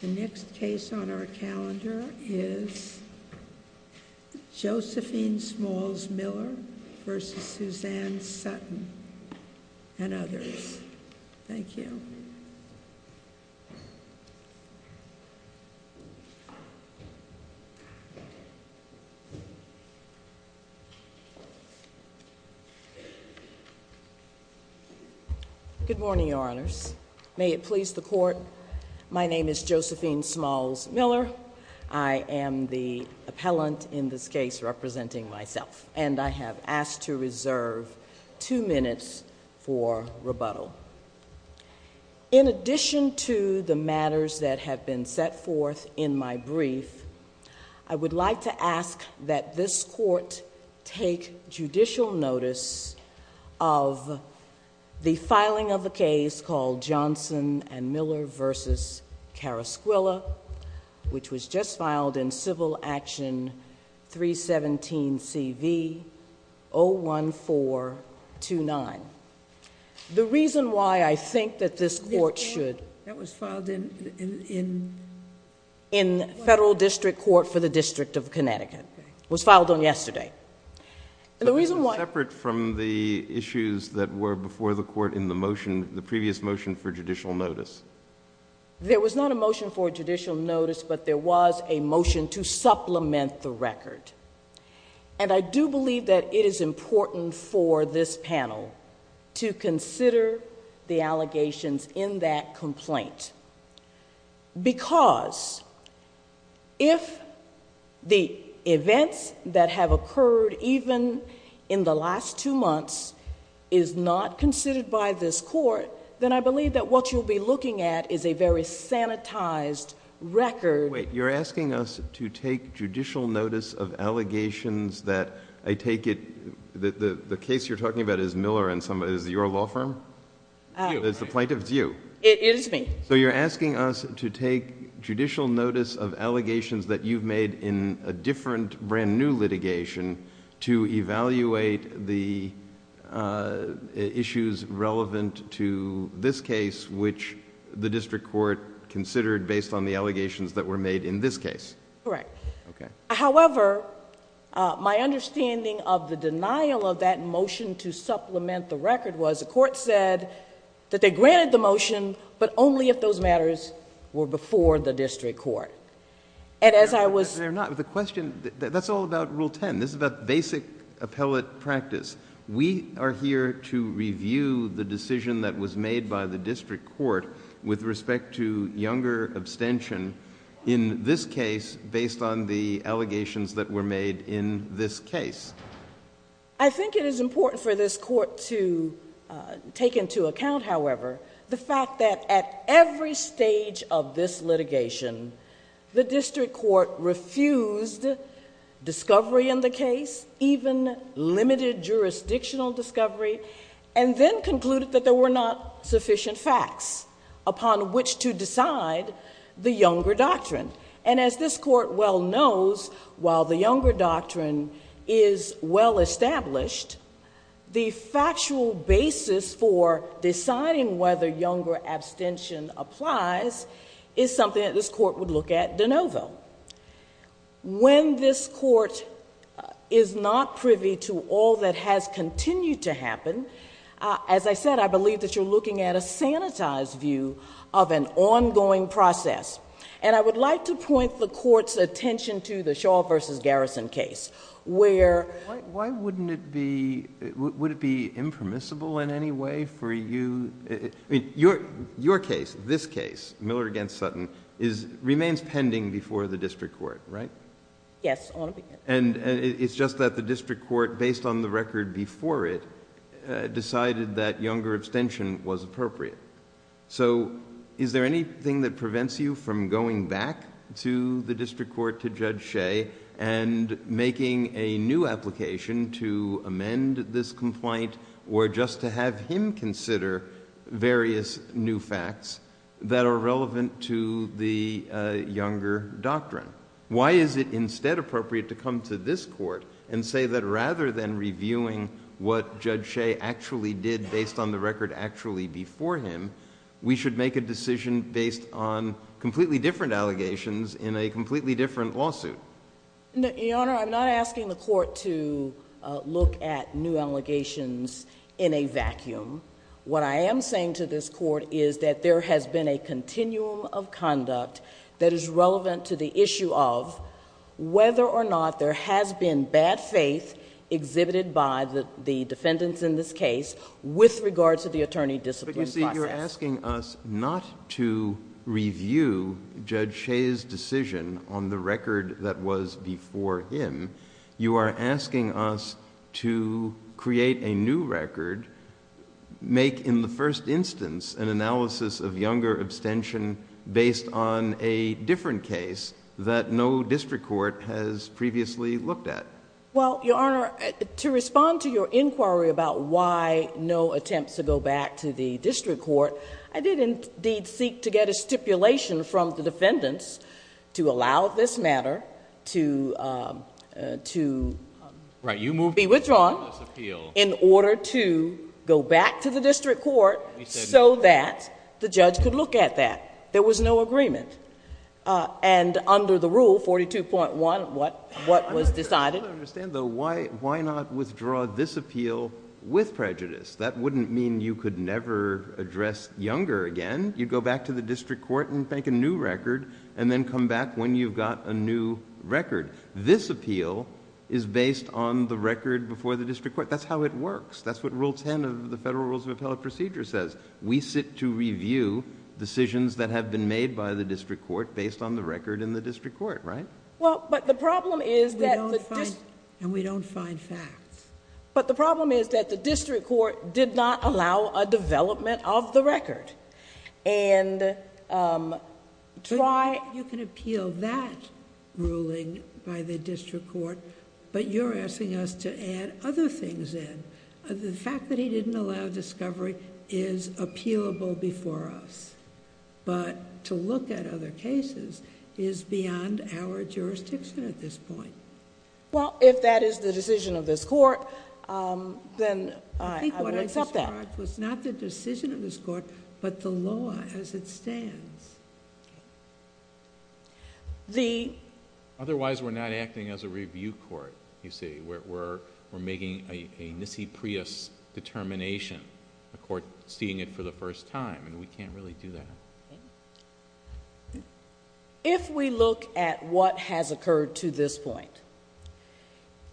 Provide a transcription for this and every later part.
The next case on our calendar is Josephine Smalls Miller v. Suzanne Sutton and others. Thank you. Good morning, Your Honors. May it please the Court, my name is Josephine Smalls Miller. I am the appellant in this case representing myself and I have asked to reserve two minutes for rebuttal. In addition to the matters that have been set forth in my brief, I would like to ask that this Court take judicial notice of the filing of the case called Johnson and Johnson. The reason why I think that this Court should... That was filed in... In Federal District Court for the District of Connecticut. It was filed on yesterday. The reason why... But that was separate from the issues that were before the Court in the motion, the previous motion for judicial notice. There was not a motion for judicial notice, but there was a motion to supplement the record. I do believe that it is important for this panel to consider the allegations in that complaint, because if the events that have occurred even in the last two months is not considered by this Court, then I believe that what you'll be looking at is a very sanitized record...... of the allegations that I take it... the case you're talking about is Miller and somebody... is it your law firm? It's you. It's the plaintiff's you. It is me. You're asking us to take judicial notice of allegations that you've made in a different brand new litigation to evaluate the issues relevant to this case, which the District Court considered based on the allegations that were made in this case. Correct. Okay. However, my understanding of the denial of that motion to supplement the record was the court said that they granted the motion, but only if those matters were before the District Court. As I was... They're not. The question... that's all about Rule 10. This is about basic appellate practice. We are here to review the decision that was made by the District Court with respect to younger abstention. In this case, based on the allegations that were made in this case. I think it is important for this court to take into account, however, the fact that at every stage of this litigation, the District Court refused discovery in the case, even limited jurisdictional discovery, and then concluded that there were not sufficient facts upon which to decide the younger doctrine. As this court well knows, while the younger doctrine is well established, the factual basis for deciding whether younger abstention applies is something that this court would look at de novo. When this court is not privy to all that has continued to happen, as I said, I believe that you're looking at a sanitized view of an ongoing process. I would like to point the court's attention to the Shaw v. Garrison case, where... Why wouldn't it be... Would it be impermissible in any way for you... Your case, this case, Miller v. Sutton, remains pending before the District Court, right? Yes. On a... It's just that the District Court, based on the record before it, decided that younger abstention was appropriate. Is there anything that prevents you from going back to the District Court, to Judge Shea, and making a new application to amend this complaint, or just to have him consider various new facts that are relevant to the younger doctrine? Why is it instead appropriate to come to this court and say that rather than did based on the record actually before him, we should make a decision based on completely different allegations in a completely different lawsuit? Your Honor, I'm not asking the court to look at new allegations in a vacuum. What I am saying to this court is that there has been a continuum of conduct that is relevant to the issue of whether or not there has been bad faith exhibited by the defendants in this case with regards to the attorney discipline process. But you see, you're asking us not to review Judge Shea's decision on the record that was before him. You are asking us to create a new record, make in the first instance an analysis of younger abstention based on a different case that no District Court has previously looked at. Well, Your Honor, to respond to your inquiry about why no attempts to go back to the District Court, I did indeed seek to get a stipulation from the defendants to allow this matter to be withdrawn in order to go back to the District Court so that the judge could look at that. There was no agreement. Under the rule 42.1, what was decided... I don't understand though, why not withdraw this appeal with prejudice? That wouldn't mean you could never address younger again. You'd go back to the District Court and make a new record and then come back when you've got a new record. This appeal is based on the record before the District Court. That's how it works. That's what Rule 10 of the Federal Rules of Appellate Procedure says. We sit to review decisions that have been made by the District Court based on the record in the District Court, right? Well, but the problem is that... We don't find facts. But the problem is that the District Court did not allow a development of the record. Try... You can appeal that ruling by the District Court, but you're asking us to add other things in. The fact that he didn't allow discovery is appealable before us, but to look at other cases is beyond our jurisdiction at this point. Well, if that is the decision of this court, then I would accept that. I think what I described was not the decision of this court, but the law as it stands. Otherwise we're not acting as a review court, you see. We're making a nissi prius determination, the court seeing it for the first time, and we can't really do that. If we look at what has occurred to this point,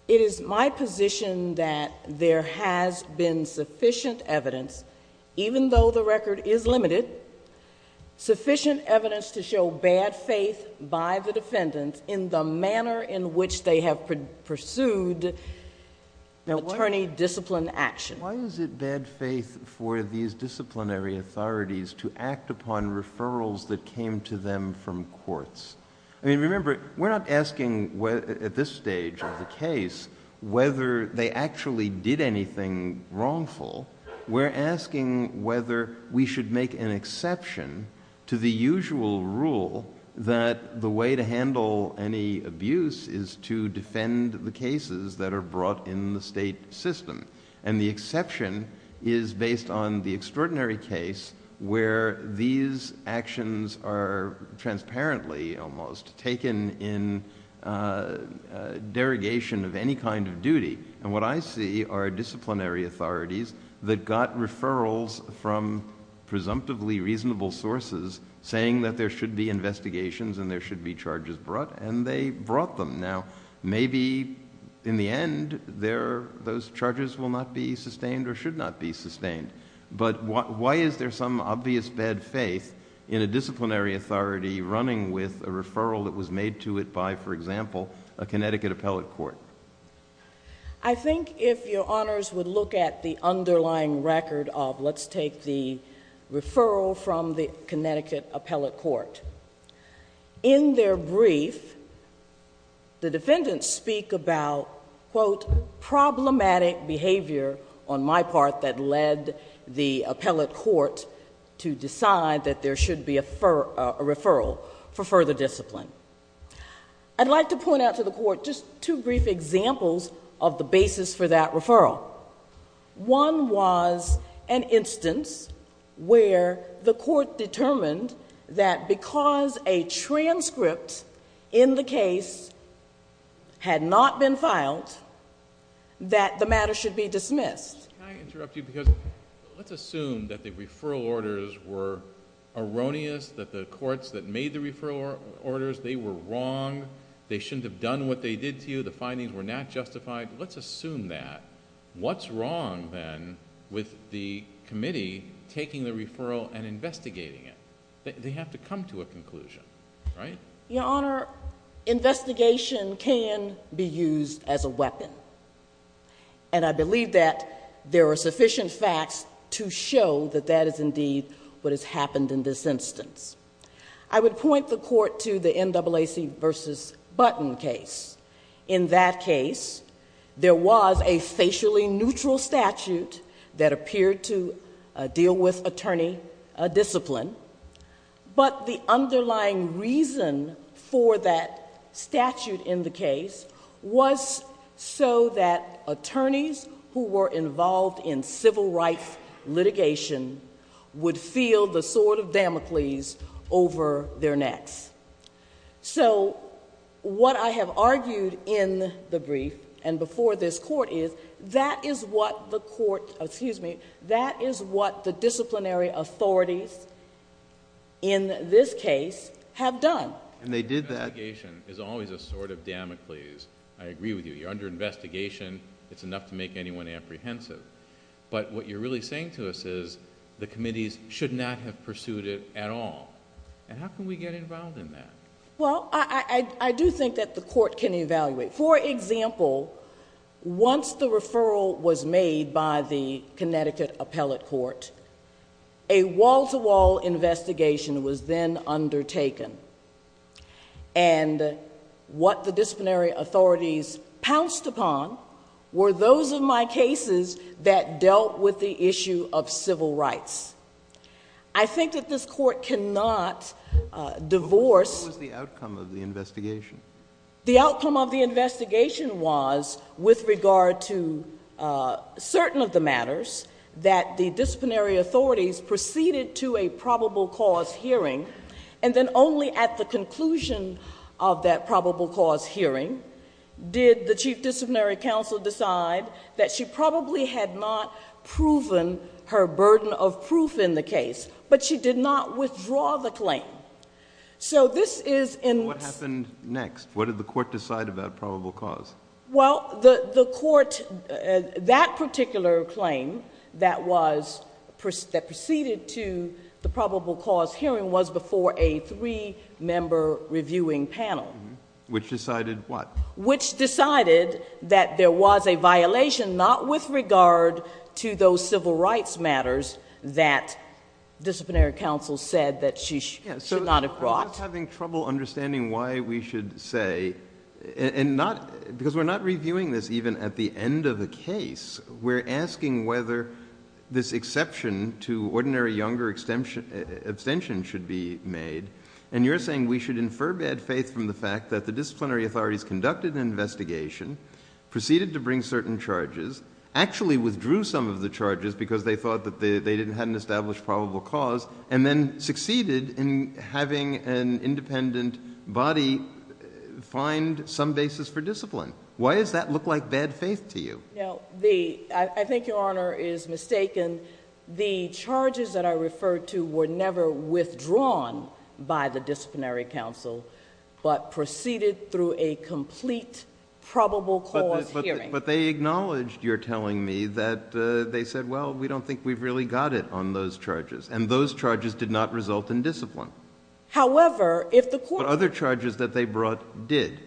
it is my position that there has been sufficient evidence, even though the record is limited, sufficient evidence to show bad faith by the attorney-disciplined action. Why is it bad faith for these disciplinary authorities to act upon referrals that came to them from courts? Remember, we're not asking at this stage of the case whether they actually did anything wrongful. We're asking whether we should make an exception to the usual rule that the way to that are brought in the state system. The exception is based on the extraordinary case where these actions are transparently almost taken in derogation of any kind of duty. What I see are disciplinary authorities that got referrals from presumptively reasonable sources saying that there should be investigations and there should be charges brought, and they brought them. Now, maybe in the end, those charges will not be sustained or should not be sustained, but why is there some obvious bad faith in a disciplinary authority running with a referral that was made to it by, for example, a Connecticut appellate court? I think if your Honors would look at the underlying record of, let's take the referral from the Connecticut appellate court. In their brief, the defendants speak about, quote, problematic behavior on my part that led the appellate court to decide that there should be a referral for further discipline. I'd like to point out to the court just two brief examples of the basis for that referral. One was an instance where the court determined that because a transcript in the case had not been filed, that the matter should be dismissed. Can I interrupt you because, let's assume that the referral orders were erroneous, that the courts that made the referral orders, they were wrong, they shouldn't have done what they did to you, the findings were not justified. Let's assume that. What's wrong then with the committee taking the referral and investigating it? They have to come to a conclusion, right? Your Honor, investigation can be used as a weapon. I believe that there are sufficient facts to show that that is indeed what has happened in this instance. I would point the court to the NAACP versus Button case. In that case, there was a facially neutral statute that appeared to deal with attorney discipline, but the underlying reason for that statute in the case was so that attorneys who were involved in civil rights litigation would feel the sword of Damocles over their necks. What I have argued in the brief and before this court is, that is what the court... excuse me, that is what the disciplinary authorities in this case have done. They did that. Investigation is always a sword of Damocles. I agree with you. Under investigation, it's enough to make anyone apprehensive. What you're really saying to us is, the committees should not have pursued it at all. How can we get involved in that? I do think that the court can evaluate. For example, once the referral was made by the Connecticut Appellate Court, a wall-to-wall investigation was then undertaken. What the disciplinary authorities pounced upon were those of my cases that dealt with the issue of civil rights. I think that this court cannot divorce... What was the outcome of the investigation? The outcome of the investigation was, with regard to certain of the matters, that the only at the conclusion of that probable cause hearing, did the chief disciplinary counsel decide that she probably had not proven her burden of proof in the case, but she did not withdraw the claim. This is in... What happened next? What did the court decide about probable cause? The court... That particular claim that proceeded to the probable cause hearing was before a three-member reviewing panel. Which decided what? Which decided that there was a violation, not with regard to those civil rights matters, that disciplinary counsel said that she should not have brought. I'm just having trouble understanding why we should say... Because we're not reviewing this even at the end of the case. We're asking whether this exception to ordinary younger abstention should be made, and you're saying we should infer bad faith from the fact that the disciplinary authorities conducted an investigation, proceeded to bring certain charges, actually withdrew some of the charges because they thought that they hadn't established probable cause, and then succeeded in having an independent body find some basis for discipline. Why does that look like bad faith to you? I think Your Honor is mistaken. The charges that I referred to were never withdrawn by the disciplinary counsel, but proceeded through a complete probable cause hearing. But they acknowledged, you're telling me, that they said, well, we don't think we've really got it on those charges, and those charges did not result in discipline. However, if the court... But other charges that they brought did.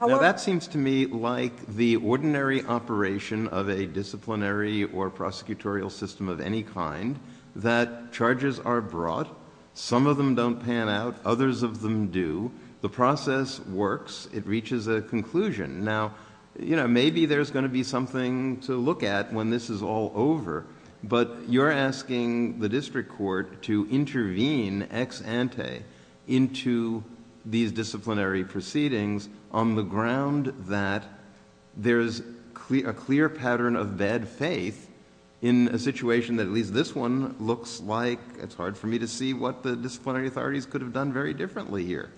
Now, that seems to me like the ordinary operation of a disciplinary or prosecutorial system of any kind, that charges are brought, some of them don't pan out, others of them do, the process works, it reaches a conclusion. Now, you know, maybe there's going to be something to look at when this is all over, but you're asking the district court to intervene ex ante into these disciplinary proceedings on the ground that there's a clear pattern of bad faith in a situation that at least this one looks like, it's hard for me to see what the disciplinary authorities could have done very differently here.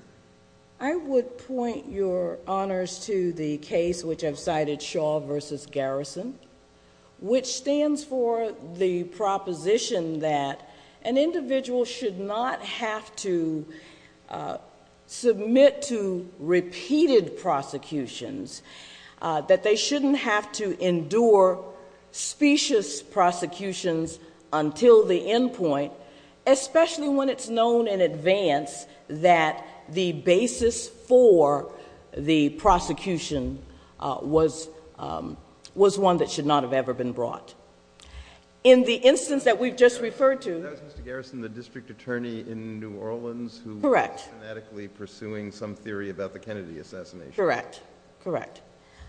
I would point, Your Honors, to the case which I've cited, Shaw v. Garrison, which stands for the proposition that an individual should not have to submit to repeated prosecutions, that they shouldn't have to endure specious prosecutions until the end point, especially when it's known in advance that the basis for the prosecution was one that should not have ever been brought. In the instance that we've just referred to... That was Mr. Garrison, the district attorney in New Orleans... Correct.... who was fanatically pursuing some theory about the Kennedy assassination. Correct. Correct.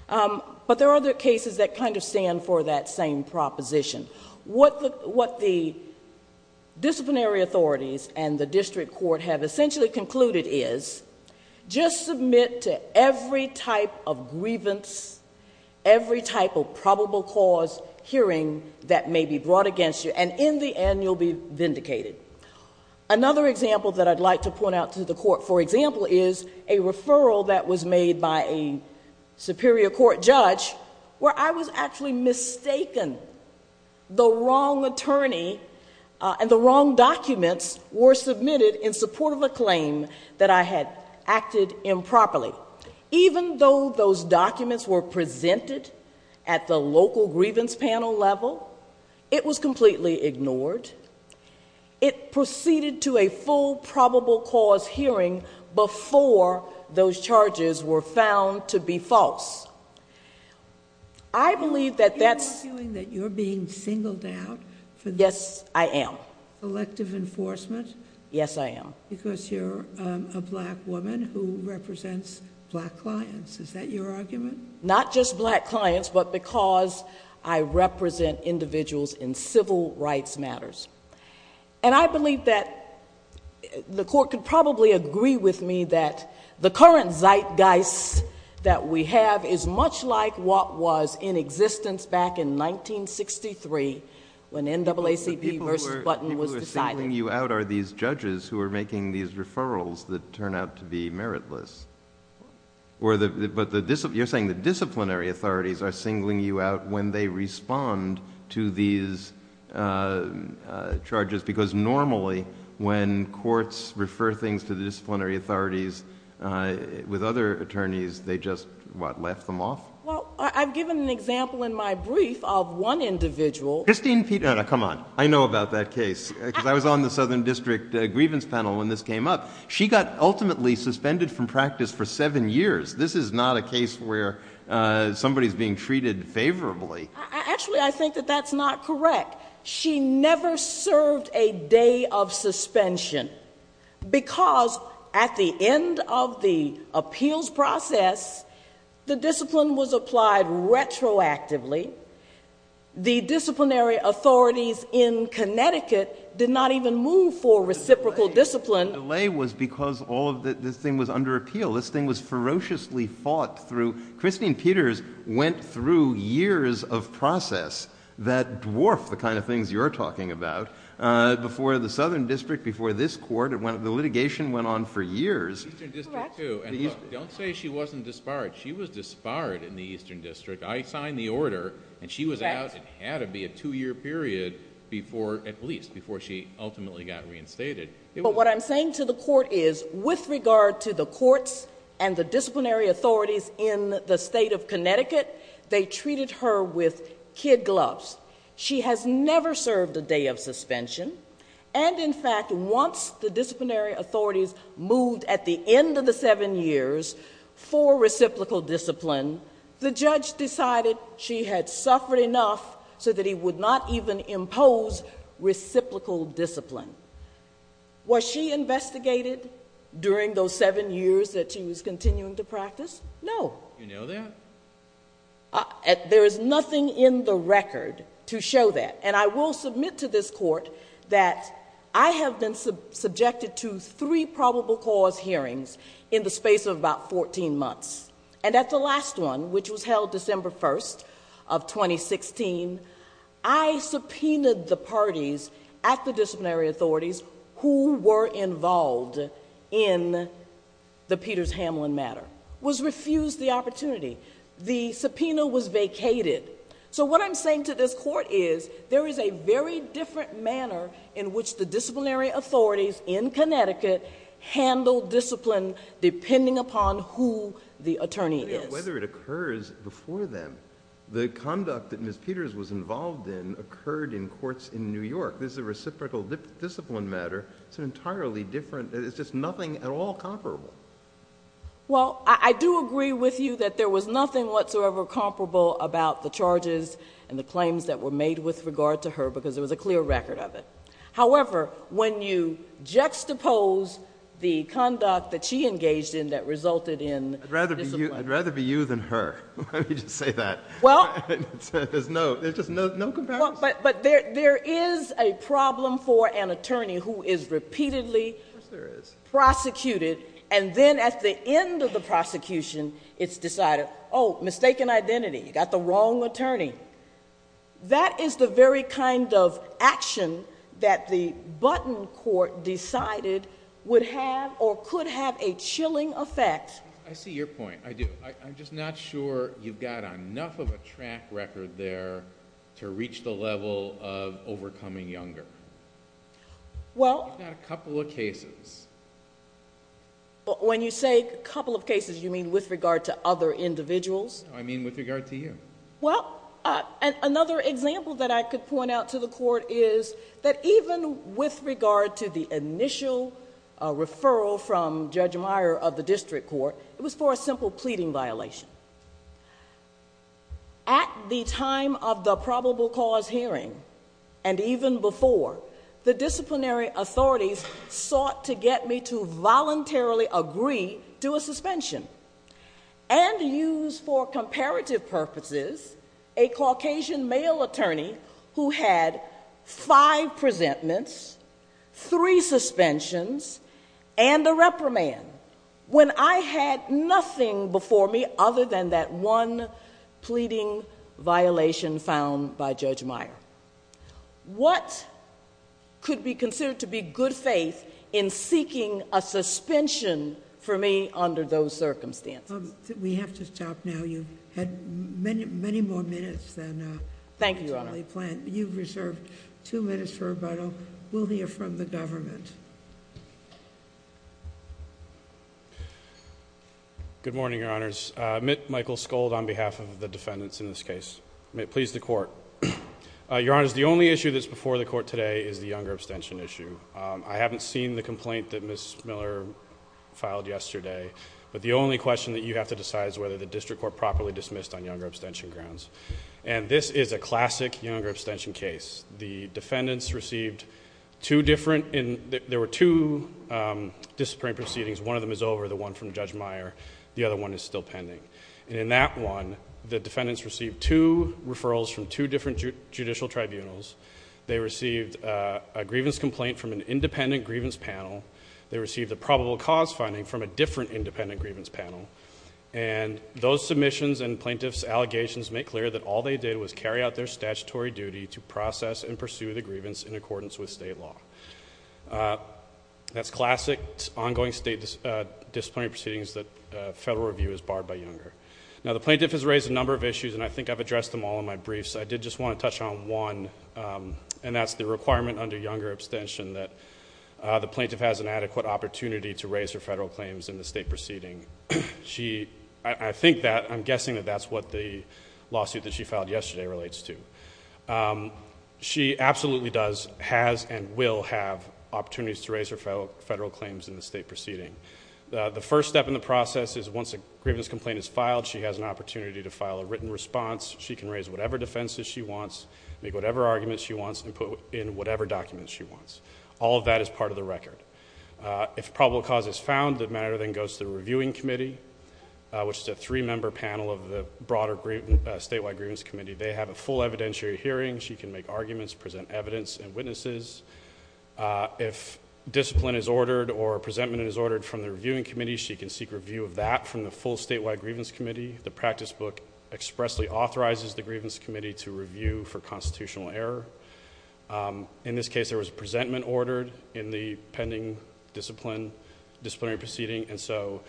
But there are other cases that kind of stand for that same proposition. What the disciplinary authorities and the district court have essentially concluded is just submit to every type of grievance, every type of probable cause hearing that may be brought against you, and in the end, you'll be vindicated. Another example that I'd like to point out to the court, for example, is a referral that was made by a superior court judge where I was actually mistaken. The wrong attorney and the wrong documents were submitted in support of a claim that I had acted improperly. Even though those documents were presented at the local grievance panel level, it was completely ignored. It proceeded to a full probable cause hearing before those charges were found to be false. Are you arguing that you're being singled out for... Yes, I am.... elective enforcement? Yes, I am. Because you're a black woman who represents black clients, is that your argument? Not just black clients, but because I represent individuals in civil rights matters. I believe that the court could probably agree with me that the current zeitgeist that we have is much like what was in existence back in 1963 when NAACP versus Button was decided. The people who are singling you out are these judges who are making these referrals that turn out to be meritless, but you're saying the disciplinary authorities are singling you out when they respond to these charges because normally when courts refer things to the disciplinary authorities with other attorneys, they just, what, laugh them off? Well, I've given an example in my brief of one individual... Christine... no, no, come on. I know about that case because I was on the Southern District Grievance Panel when this came up. She got ultimately suspended from practice for seven years. This is not a case where somebody is being treated favorably. Actually, I think that that's not correct. She never served a day of suspension because at the end of the appeals process, the discipline was applied retroactively. The disciplinary authorities in Connecticut did not even move for reciprocal discipline. The delay was because all of this thing was under appeal. This thing was ferociously fought through. Christine Peters went through years of process that dwarf the kind of things you're talking about before the Southern District, before this court. The litigation went on for years. Eastern District too. Correct. Don't say she wasn't disbarred. She was disbarred in the Eastern District. I signed the order and she was out. It had to be a two-year period at least before she ultimately got reinstated. What I'm saying to the court is with regard to the courts and the disciplinary authorities in the state of Connecticut, they treated her with kid gloves. She has never served a day of suspension and in fact, once the disciplinary authorities moved at the end of the seven years for reciprocal discipline, the judge decided she had suffered enough so that he would not even impose reciprocal discipline. Was she investigated during those seven years that she was continuing to practice? No. You know that? There is nothing in the record to show that. I will submit to this court that I have been subjected to three probable cause hearings in the space of about 14 months. At the last one, which was held December 1st of 2016, I subpoenaed the parties at the disciplinary authorities who were involved in the Peters-Hamlin matter. That was refused the opportunity. The subpoena was vacated. What I'm saying to this court is there is a very different manner in which the disciplinary authorities in Connecticut handle discipline depending upon who the attorney is. Whether it occurs before them, the conduct that Ms. Peters was involved in occurred in courts in New York. This is a reciprocal discipline matter. It's an entirely different... It's just nothing at all comparable. Well, I do agree with you that there was nothing whatsoever comparable about the charges and the claims that were made with regard to her because there was a clear record of it. However, when you juxtapose the conduct that she engaged in that resulted in discipline... I'd rather be you than her. Let me just say that. Well... There's just no comparison. There is a problem for an attorney who is repeatedly prosecuted and then at the end of the prosecution, it's decided, oh, mistaken identity. You got the wrong attorney. That is the very kind of action that the Button Court decided would have or could have a chilling effect. I see your point. I do. I'm just not sure you've got enough of a track record there to reach the level of overcoming younger. Well... If not a couple of cases. When you say a couple of cases, you mean with regard to other individuals? No, I mean with regard to you. Well, another example that I could point out to the court is that even with regard to the At the time of the probable cause hearing and even before, the disciplinary authorities sought to get me to voluntarily agree to a suspension and use for comparative purposes a Caucasian male attorney who had five presentments, three suspensions, and a reprimand. When I had nothing before me other than that one pleading violation found by Judge Meyer, what could be considered to be good faith in seeking a suspension for me under those circumstances? We have to stop now. You've had many more minutes than... Thank you, Your Honor. You've reserved two minutes for rebuttal. We'll hear from the government. Good morning, Your Honors. Mitt Michael Skold on behalf of the defendants in this case. May it please the court. Your Honors, the only issue that's before the court today is the younger abstention issue. I haven't seen the complaint that Ms. Miller filed yesterday, but the only question that you have to decide is whether the district court properly dismissed on younger abstention grounds. This is a classic younger abstention case. The defendants received two different... There were two disciplinary proceedings. One of them is over, the one from Judge Meyer. The other one is still pending. In that one, the defendants received two referrals from two different judicial tribunals. They received a grievance complaint from an independent grievance panel. They received a probable cause finding from a different independent grievance panel. Those submissions and plaintiff's allegations make clear that all they did was carry out their statutory duty to process and pursue the grievance in accordance with state law. That's classic ongoing state disciplinary proceedings that federal review is barred by younger. Now, the plaintiff has raised a number of issues, and I think I've addressed them all in my briefs. I did just want to touch on one, and that's the requirement under younger abstention that the plaintiff has an adequate opportunity to raise her federal claims in the state proceeding. I'm guessing that that's what the lawsuit that she filed yesterday relates to. She absolutely does, has, and will have opportunities to raise her federal claims in the state proceeding. The first step in the process is once a grievance complaint is filed, she has an opportunity to file a written response. She can raise whatever defenses she wants, make whatever arguments she wants, and put in whatever documents she wants. All of that is part of the record. If probable cause is found, the matter then goes to the reviewing committee, which is a three-member panel of the broader statewide grievance committee. They have a full evidentiary hearing. She can make arguments, present evidence and witnesses. If discipline is ordered or a presentment is ordered from the reviewing committee, she can seek review of that from the full statewide grievance committee. The practice book expressly authorizes the grievance committee to review for constitutional error. In this case, there was a presentment ordered in the pending disciplinary proceeding, and so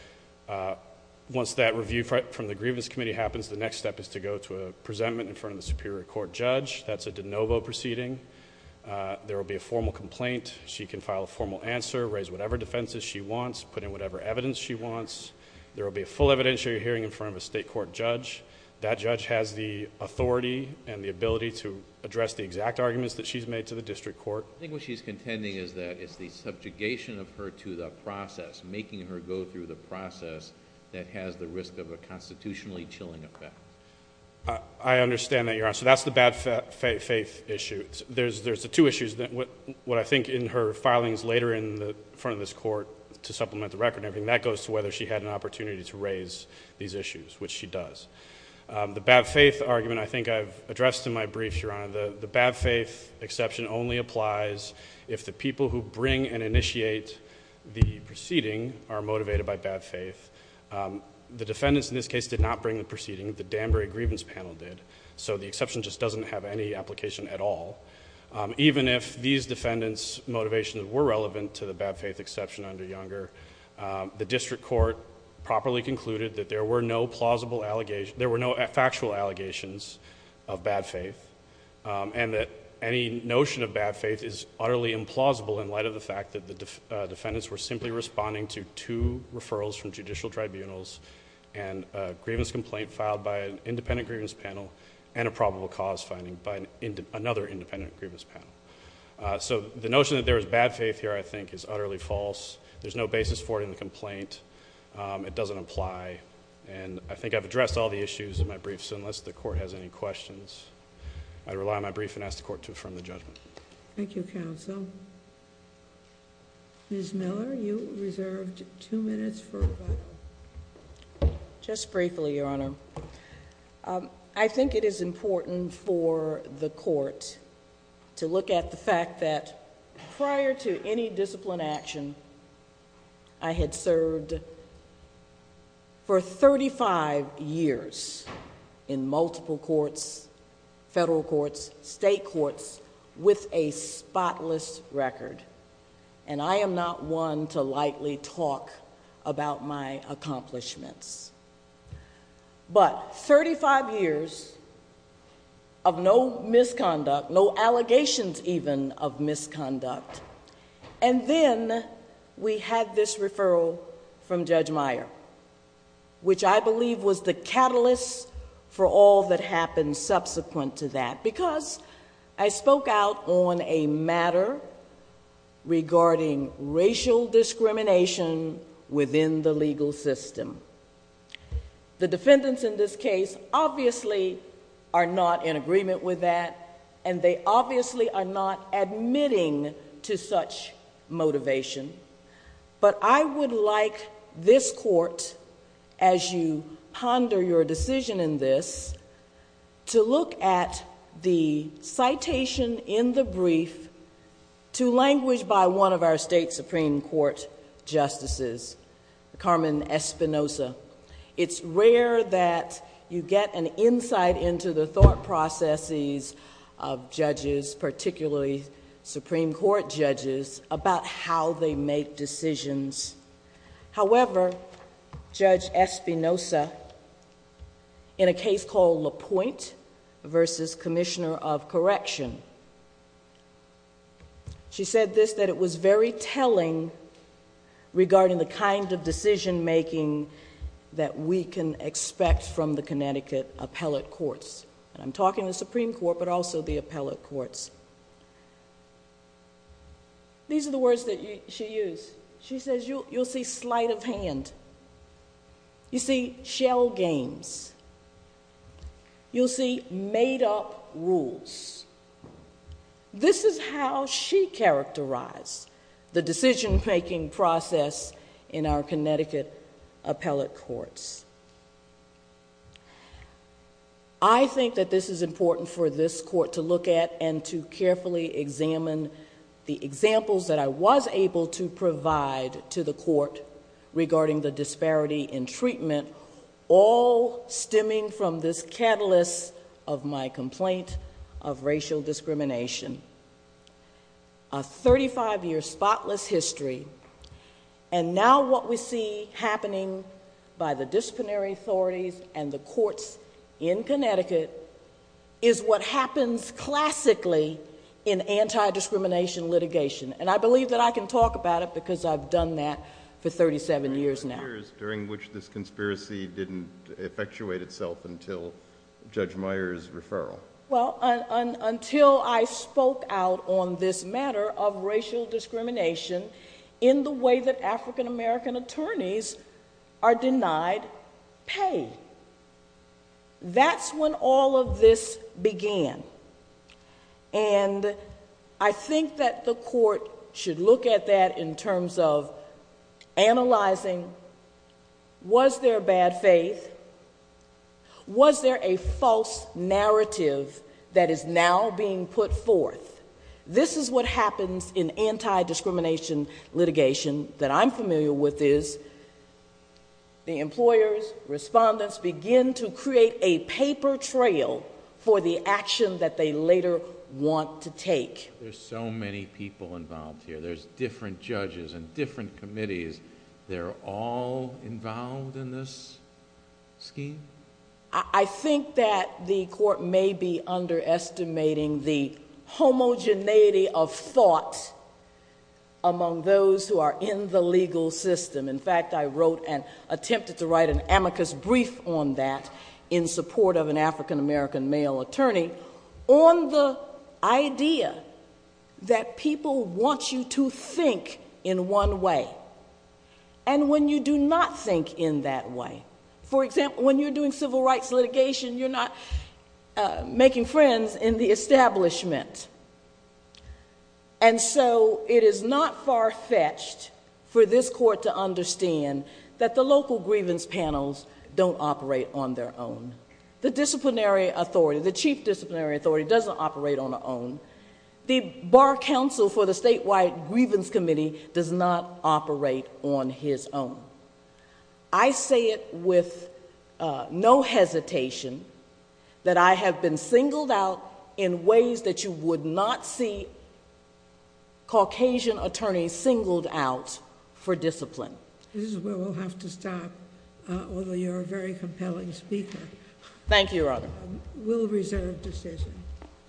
once that review from the grievance committee happens, the next step is to go to a presentment in front of the superior court judge. That's a de novo proceeding. There will be a formal complaint. She can file a formal answer, raise whatever defenses she wants, put in whatever evidence she wants. There will be a full evidentiary hearing in front of a state court judge. That judge has the authority and the ability to address the exact arguments that she's made to the district court. I think what she's contending is that it's the subjugation of her to the process, making her go through the process that has the risk of a constitutionally chilling effect. I understand that, Your Honor. That's the bad faith issue. There's the two issues. What I think in her filings later in front of this court to supplement the record, that goes to whether she had an opportunity to raise these issues, which she does. The bad faith argument I think I've addressed in my brief, Your Honor. The bad faith exception only applies if the people who bring and initiate the proceeding are motivated by bad faith. The defendants in this case did not bring the proceeding. The Danbury grievance panel did. So the exception just doesn't have any application at all. Even if these defendants' motivations were relevant to the bad faith exception under Younger, the district court properly concluded that there were no factual allegations of bad faith and that any notion of bad faith is utterly implausible in light of the fact that the defendants were simply responding to two referrals from judicial tribunals and a grievance complaint filed by an independent grievance panel and a probable cause finding by another independent grievance panel. So the notion that there was bad faith here I think is utterly false. There's no basis for it in the complaint. It doesn't apply. And I think I've addressed all the issues in my brief, so unless the court has any questions, I rely on my brief and ask the court to affirm the judgment. Thank you, counsel. Ms. Miller, you reserved two minutes for rebuttal. Just briefly, Your Honor. I think it is important for the court to look at the fact that prior to any discipline action, I had served for 35 years in multiple courts, federal courts, state courts with a spotless record, and I am not one to lightly talk about my accomplishments. But 35 years of no misconduct, no allegations even of misconduct, and then we had this referral from Judge Meyer, which I believe was the catalyst for all that happened subsequent to that The defendants in this case obviously are not in agreement with that, and they obviously are not admitting to such motivation. But I would like this court, as you ponder your decision in this, to look at the citation in the brief to language by one of our state supreme court justices, Carmen Espinoza. It's rare that you get an insight into the thought processes of judges, particularly supreme court judges, about how they make decisions. However, Judge Espinoza, in a case called LaPointe v. Commissioner of Correction, she said this, that it was very telling regarding the kind of decision making that we can expect from the Connecticut appellate courts. And I'm talking the supreme court, but also the appellate courts. These are the words that she used. She says, you'll see sleight of hand. You'll see shell games. You'll see made-up rules. This is how she characterized the decision-making process in our Connecticut appellate courts. I think that this is important for this court to look at and to carefully examine the examples that I was able to provide to the court regarding the disparity in treatment, all stemming from this catalyst of my complaint of racial discrimination. A 35-year spotless history, and now what we see happening by the disciplinary authorities and the courts in Connecticut is what happens classically in anti-discrimination litigation. And I believe that I can talk about it because I've done that for 37 years now. During which this conspiracy didn't effectuate itself until Judge Meyer's referral. Well, until I spoke out on this matter of racial discrimination in the way that African-American attorneys are denied pay. That's when all of this began. And I think that the court should look at that in terms of analyzing, was there bad faith? Was there a false narrative that is now being put forth? This is what happens in anti-discrimination litigation that I'm familiar with is the employers, respondents, begin to create a paper trail for the action that they later want to take. There's so many people involved here. There's different judges and different committees. They're all involved in this scheme? I think that the court may be underestimating the homogeneity of thought among those who are in the legal system. In fact, I wrote and attempted to write an amicus brief on that in support of an African-American male attorney on the idea that people want you to think in one way. And when you do not think in that way. For example, when you're doing civil rights litigation, you're not making friends in the establishment. And so it is not far-fetched for this court to understand that the local grievance panels don't operate on their own. The disciplinary authority, the chief disciplinary authority, doesn't operate on their own. The Bar Council for the Statewide Grievance Committee does not operate on his own. I say it with no hesitation that I have been singled out in ways that you would not see Caucasian attorneys singled out for discipline. This is where we'll have to stop, although you're a very compelling speaker. Thank you, Your Honor. We'll reserve decision. Thank you.